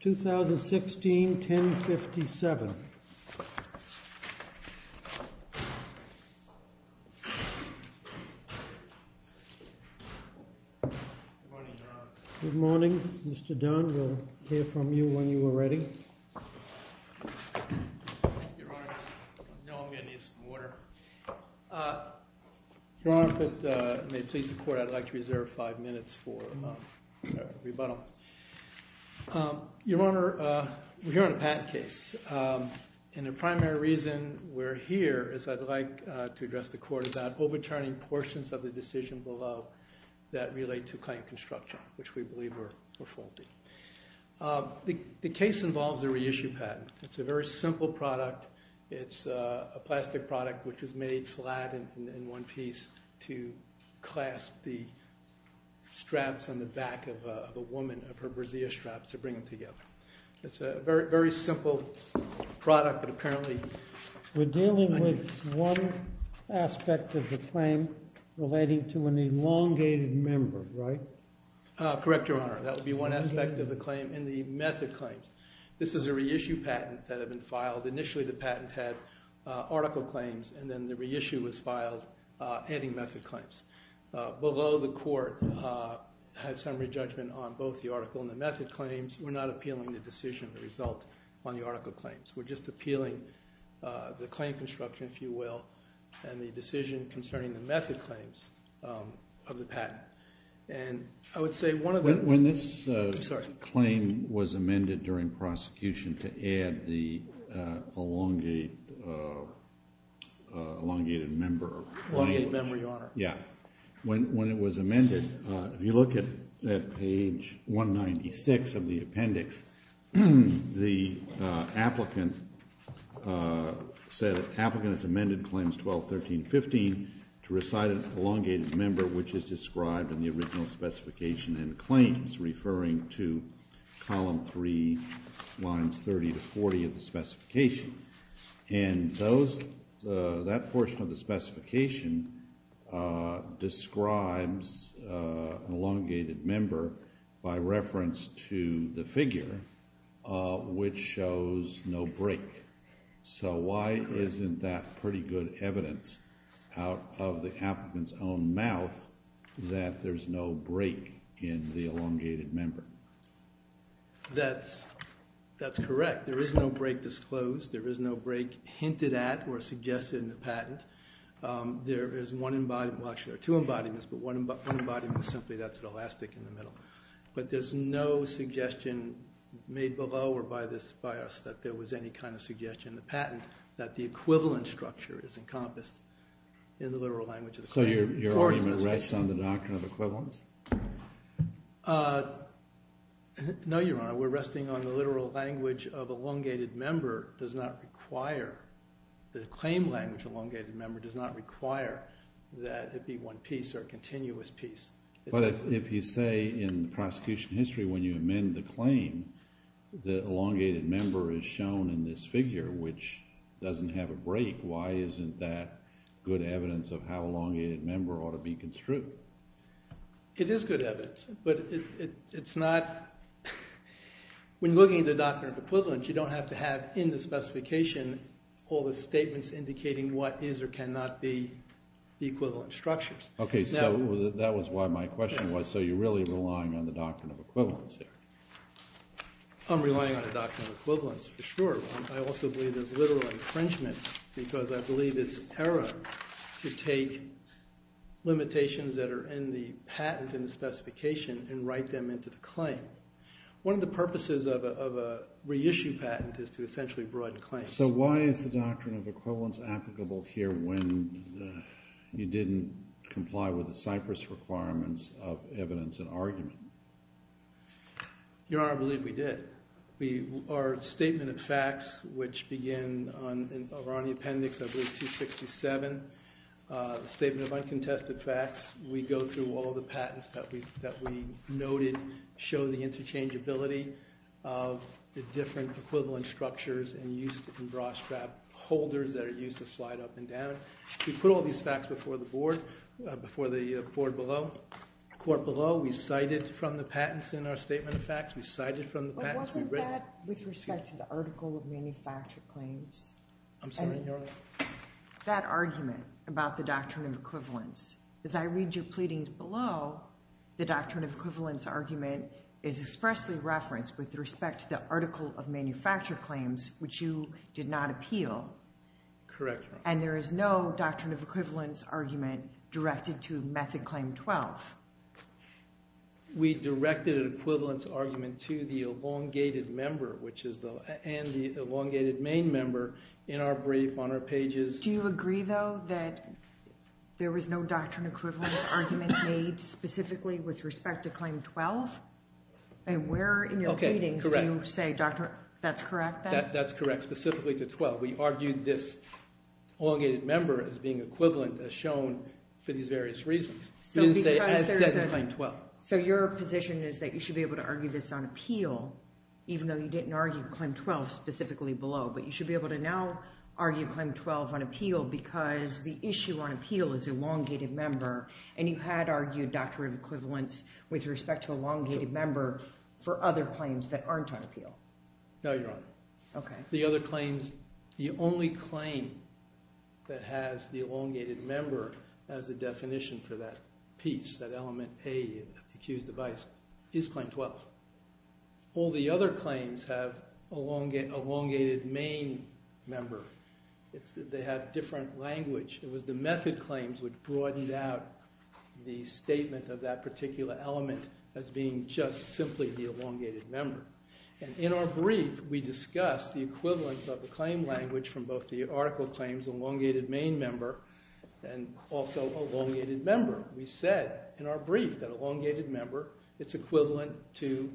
2016-1057. Good morning, Mr. Dunn. We'll hear from you when you are ready. Your Honor, we're here on a patent case, and the primary reason we're here is I'd like to address the court about overturning portions of the decision below that relate to client construction, which we believe were faulty. The case involves a reissue patent. It's a very simple product. It's a plastic product which is made flat in one piece to clasp the straps on the back of a woman, of her brassiere straps, to bring them together. It's a very simple product, but apparently... We're dealing with one aspect of the claim relating to an Correct, Your Honor. That would be one aspect of the claim in the method claims. This is a reissue patent that had been filed. Initially, the patent had article claims, and then the reissue was filed adding method claims. Below, the court had summary judgment on both the article and the method claims. We're not appealing the decision, the result, on the article claims. We're just appealing the claim construction, if you will, and the decision concerning the patent. I would say one of the... I'm sorry. When this claim was amended during prosecution to add the elongated member... Elongated member, Your Honor. Yeah. When it was amended, if you look at page 196 of the appendix, the applicant said, applicant has amended claims 12, 13, 15 to what is described in the original specification and claims, referring to column 3, lines 30 to 40 of the specification. That portion of the specification describes an elongated member by reference to the figure, which shows no break. Why isn't that pretty good evidence out of the that there's no break in the elongated member? That's correct. There is no break disclosed. There is no break hinted at or suggested in the patent. There is one embodiment... Well, actually, there are two embodiments, but one embodiment simply that's elastic in the middle. But there's no suggestion made below or by us that there was any kind of suggestion in the patent that the equivalent structure is encompassed in the literal language of the claim. So your argument rests on the doctrine of equivalence? No, Your Honor. We're resting on the literal language of elongated member does not require... The claim language elongated member does not require that it be one piece or a continuous piece. But if you say in the prosecution history, when you amend the claim, the elongated member is shown in this figure, which doesn't have a break, why isn't that good evidence of how elongated member ought to be construed? It is good evidence, but it's not... When looking at the doctrine of equivalence, you don't have to have in the specification all the statements indicating what is or cannot be the equivalent structures. Okay. So that was why my question was, so you're really relying on the doctrine of equivalence here? I'm relying on the doctrine of equivalence for sure. I also believe there's literal infringement because I believe it's error to take limitations that are in the patent and the specification and write them into the claim. One of the purposes of a reissue patent is to essentially broaden claims. So why is the doctrine of equivalence applicable here when you didn't comply with the Cyprus requirements of evidence and argument? Your Honor, I believe we did. Our statement of uncontested facts, which begin on the appendix, I believe 267, the statement of uncontested facts, we go through all the patents that we noted, show the interchangeability of the different equivalent structures and used in bra strap holders that are used to slide up and down. We put all these facts before the board, before the court below. We cited from the patents in our statement of facts, we cited from the patents... But wasn't that with respect to article of manufactured claims? I'm sorry, Your Honor? That argument about the doctrine of equivalence. As I read your pleadings below, the doctrine of equivalence argument is expressly referenced with respect to the article of manufactured claims, which you did not appeal. Correct. And there is no doctrine of equivalence argument directed to Method Claim 12? We directed an equivalence argument to the elongated member, which is the... And the elongated main member in our brief on our pages. Do you agree, though, that there was no doctrine equivalence argument made specifically with respect to Claim 12? And where in your pleadings do you say, doctor, that's correct then? That's correct, specifically to 12. We argued this equivalent as shown for these various reasons. So your position is that you should be able to argue this on appeal, even though you didn't argue Claim 12 specifically below, but you should be able to now argue Claim 12 on appeal because the issue on appeal is elongated member, and you had argued doctrine of equivalence with respect to elongated member for other claims that aren't on appeal. No, Your Honor. Okay. The other claims, the only claim that has the elongated member as a definition for that piece, that element A, accused of vice, is Claim 12. All the other claims have elongated main member. They have different language. It was the method claims which broadened out the statement of that particular element as being just simply the main member. And in our brief, we discussed the equivalence of the claim language from both the article claims, elongated main member, and also elongated member. We said in our brief that elongated member, it's equivalent to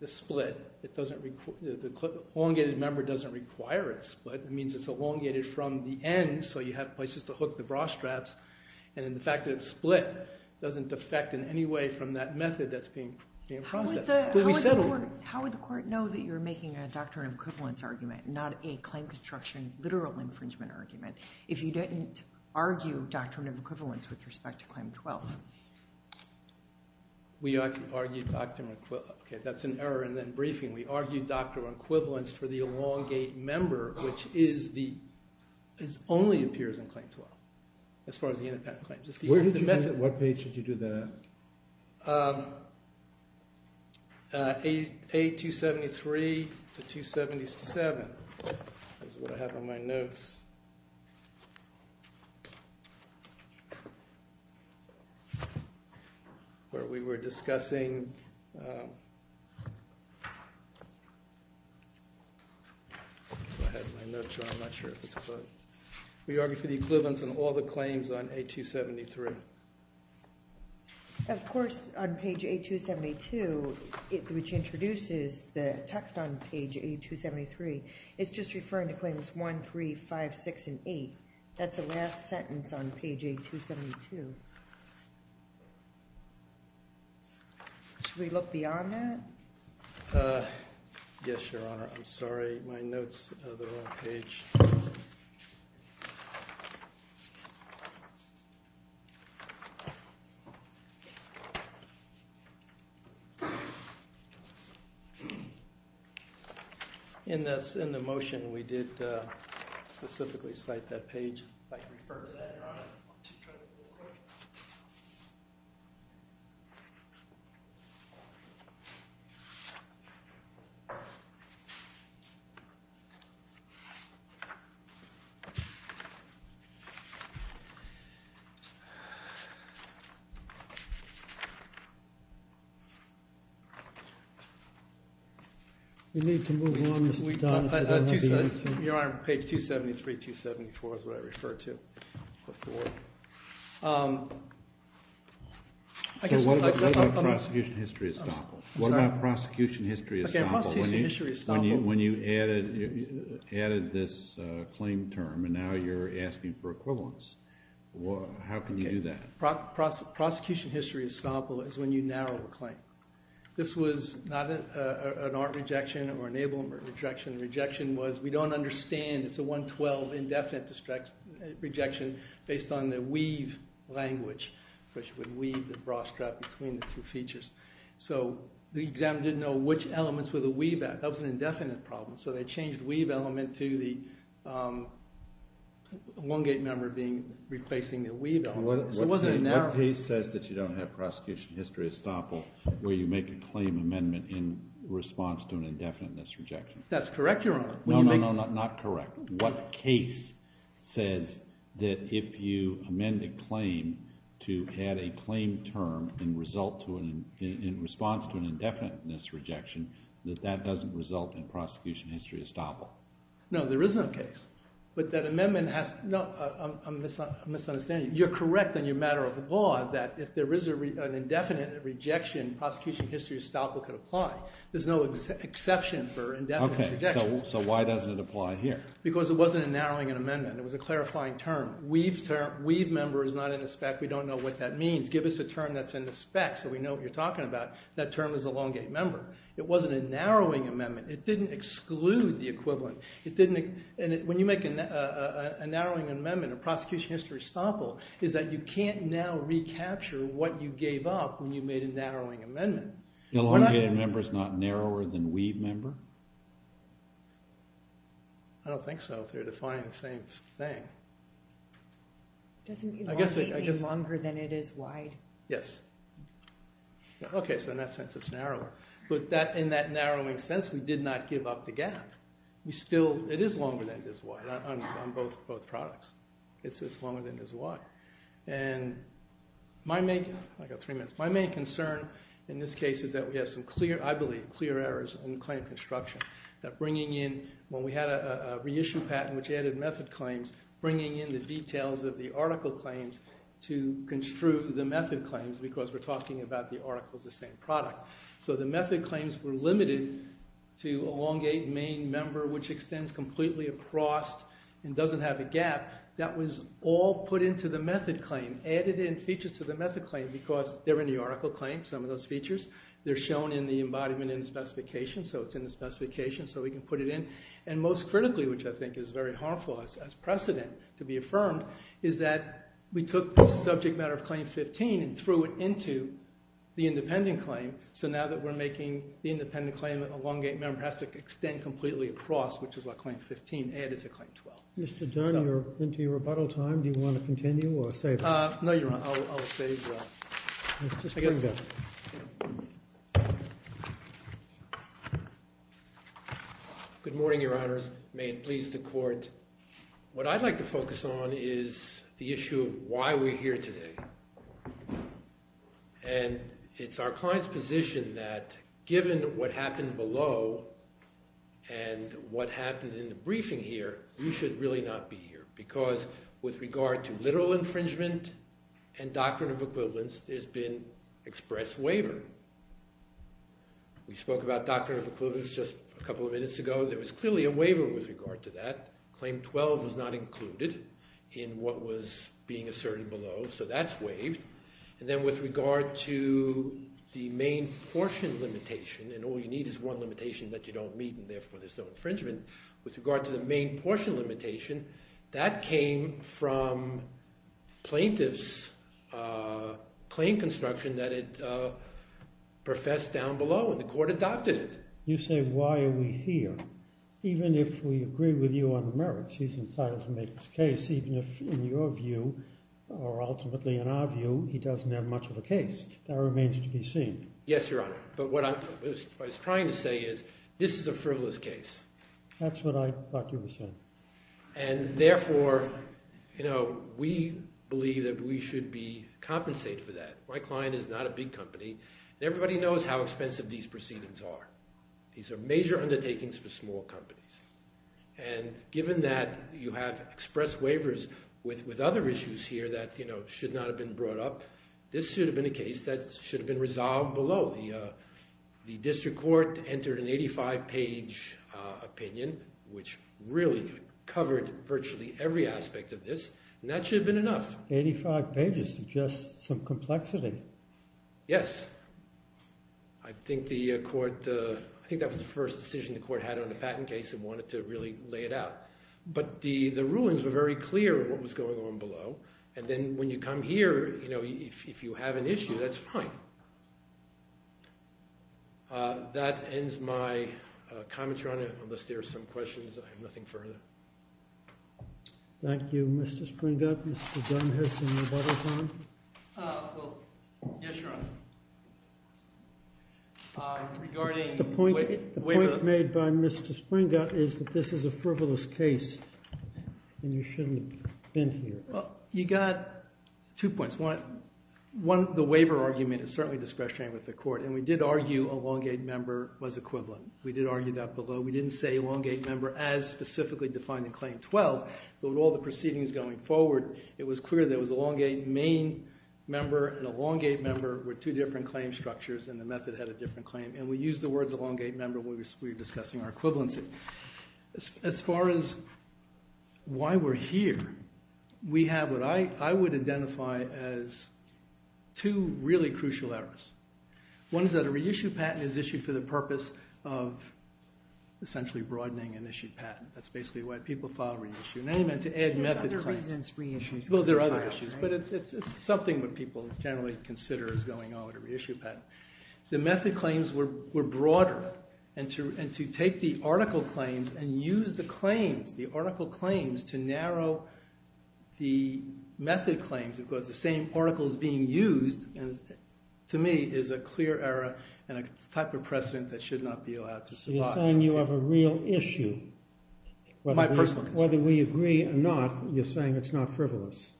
the split. The elongated member doesn't require a split. It means it's elongated from the end, so you have places to hook the bra straps. And then the fact that it's split doesn't defect in any way from that method that's being processed. How would the court know that you're making a doctrine of equivalence argument, not a claim construction literal infringement argument, if you didn't argue doctrine of equivalence with respect to Claim 12? We argued doctrine of equivalence. Okay, that's an error in the briefing. We argued doctrine of equivalence for the elongated member, which only appears in Claim 12, as far as the independent claims. Where did you do that? What page did you do that? A273 to 277 is what I have on my notes, where we were discussing. I have my notes, I'm not sure if it's closed. We argued for the equivalence on all the claims on A273. Of course, on page A272, which introduces the text on page A273, it's just referring to Claims 1, 3, 5, 6, and 8. That's the last sentence on page A272. Should we look beyond that? Yes, Your Honor. I'm sorry, my notes are on the wrong page. Okay. In the motion, we did specifically cite that page. If I could refer to that, Your Honor. We need to move on. Your Honor, page 273, 274 is what I refer to. So what about prosecution history estoppel? What about prosecution history estoppel? Okay, prosecution history estoppel. When you added this claim term, and now you're asking for equivalence. How can you do that? Prosecution history estoppel is when you narrow a claim. This was not an art rejection or enablement rejection. Rejection was, we don't understand. It's a 112 indefinite rejection based on the weave language, which would weave the bra strap between the two features. So the examiner didn't know which elements were the weave at. That was an indefinite problem. So they changed the weave element to the Lungate member replacing the weave element. So it wasn't a narrowing. What case says that you don't have prosecution history estoppel where you make a claim amendment in response to an indefiniteness rejection? That's correct, Your Honor. No, no, no, not correct. What case says that if you amend a claim to add a claim term in response to an indefiniteness rejection, that that doesn't result in prosecution history estoppel? No, there is no case. But that amendment has, no, I'm misunderstanding. You're correct in your matter of law that if there is an indefinite rejection, prosecution history estoppel could apply. There's no exception for indefinite rejection. So why doesn't it apply here? Because it wasn't a narrowing in amendment. It was a clarifying term. Weave member is not in the spec. We don't know what that means. Give us a term that's in the spec so we know what you're talking about. That term is elongate member. It wasn't a narrowing amendment. It didn't exclude the equivalent. When you make a narrowing amendment, a prosecution history estoppel, is that you can't now recapture what you gave up when you made a narrowing amendment. Elongated member is not narrower than weave member? I don't think so if they're defining the same thing. Doesn't elongate mean longer than it is wide? Yes. Okay, so in that sense it's narrower. But in that narrowing sense, we did not give up the gap. It is longer than it is wide on both products. It's longer than it is wide. And my main concern in this case is that we have some clear, I believe, clear errors in claim construction. That bringing in, when we had a reissue patent which added method claims, bringing in the details of the article claims to construe the method claims because we're talking about the article as the same product. So the method claims were limited to elongate main member which extends completely across and doesn't have a gap. That was all put into the method claim, added in features to the method claim because they're in the article claim, some of those features. They're shown in the embodiment in the specification so it's in the specification so we can put it in. And most critically, which I think is very harmful as precedent to be affirmed, is that we took the subject matter of claim 15 and threw it into the independent claim. So now that we're making the independent claim, elongate member has to extend completely across which is what claim 15 added to claim 12. Mr. Dunn, you're into your rebuttal time. Do you want to continue or save it? No, your honor, I'll save that. Good morning, your honors. May it please the court. What I'd like to focus on is the issue of why we're here today. And it's our client's position that given what happened below and what happened in the briefing here, we should really not be here because with regard to literal infringement and doctrine of equivalence, there's been express waiver. We spoke about doctrine of equivalence just a couple of minutes ago. There was clearly a waiver with regard to that. Claim 12 was not included in what was being asserted below so that's waived. And then with regard to the main portion limitation, and all you need is one limitation that you don't meet and therefore there's no infringement, with regard to the main portion limitation, that came from plaintiff's claim construction that it professed down below and the court adopted it. You say why are we here? Even if we agree with you on the merits, he's entitled to make his case even if in your view or ultimately in our view, he doesn't have much of a case. That remains to be seen. Yes, your honor, but what I was trying to is this is a frivolous case. That's what I thought you were saying. And therefore, you know, we believe that we should be compensated for that. My client is not a big company. Everybody knows how expensive these proceedings are. These are major undertakings for small companies. And given that you have express waivers with other issues here that, you know, should not have been brought up, this should have been a case that should have been resolved below. The district court entered an 85-page opinion, which really covered virtually every aspect of this, and that should have been enough. 85 pages is just some complexity. Yes, I think the court, I think that was the first decision the court had on a patent case and wanted to really lay it out. But the rulings were very clear what was going on below. And then when you come here, you know, if you have an issue, that's fine. That ends my comment, your honor, unless there are some questions. I have nothing further. Thank you, Mr. Springgott. Mr. Dunn has some rebuttals on him. Well, yes, your honor. Regarding the point made by Mr. Springgott is that this is a frivolous case, and you shouldn't have been here. You got two points. One, the waiver argument is certainly discretionary with the court, and we did argue a Longgate member was equivalent. We did argue that below. We didn't say a Longgate member as specifically defined in Claim 12, but with all the proceedings going forward, it was clear that it was a Longgate main member and a Longgate member with two different claim structures, and the method had a different claim. And we used the method. And of course, while we're here, we have what I would identify as two really crucial errors. One is that a reissue patent is issued for the purpose of essentially broadening an issued patent. That's basically why people file a reissue. And I didn't mean to add method claims. There's other reasons reissues are filed, right? Well, there are other issues, but it's something that people generally consider is going on with a reissue patent. The method claims were broader, and to take the article claims and use the claims the article claims to narrow the method claims, because the same article is being used, and to me is a clear error and a type of precedent that should not be allowed to survive. You're saying you have a real issue. My personal concern. Whether we agree or not, you're saying it's not frivolous.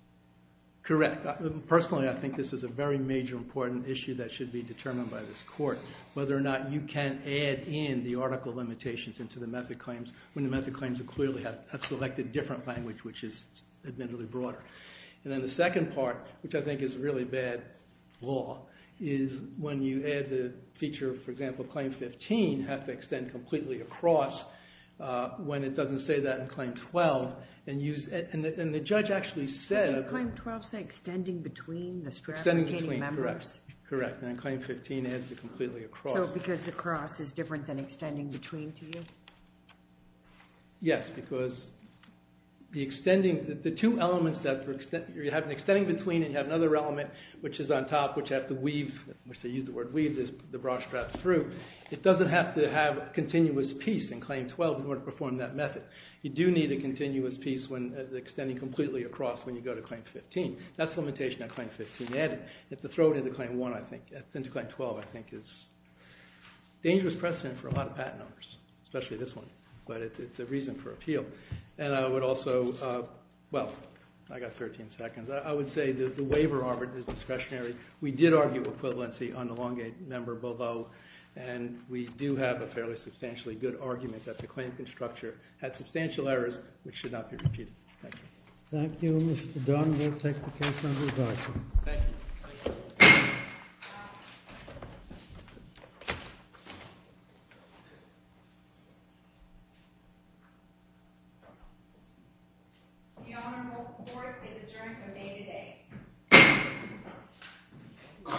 Correct. Personally, I think this is a very major important issue that should be determined by this court, whether or not you can add in the article limitations into the method claims when the method claims clearly have selected different language, which is admittedly broader. And then the second part, which I think is really bad law, is when you add the feature, for example, claim 15 has to extend completely across when it doesn't say that in claim 12. And the judge actually said... Does claim 12 say extending between the strapped retaining members? Extending between, correct. Correct. And then claim 15 adds it completely across. So because across is different than extending between to you? Yes, because the two elements that you have an extending between and you have another element which is on top, which you have to weave, which they use the word weave the bra strap through, it doesn't have to have continuous piece in claim 12 in order to perform that method. You do need a continuous piece when extending completely across when you go to claim 15. That's limitation on claim 15 added. If you throw it into claim 12, I think it's a dangerous precedent for a lot of patent owners, especially this one. But it's a reason for appeal. And I would also... Well, I got 13 seconds. I would say that the waiver, Robert, is discretionary. We did argue equivalency on the Longgate member below. And we do have a fairly substantially good argument that the claim can structure had substantial errors, which should not be repeated. Thank you. Thank you, Mr. Dunn. We'll take the case under discussion. Thank you. The honorable court is adjourned from day to day.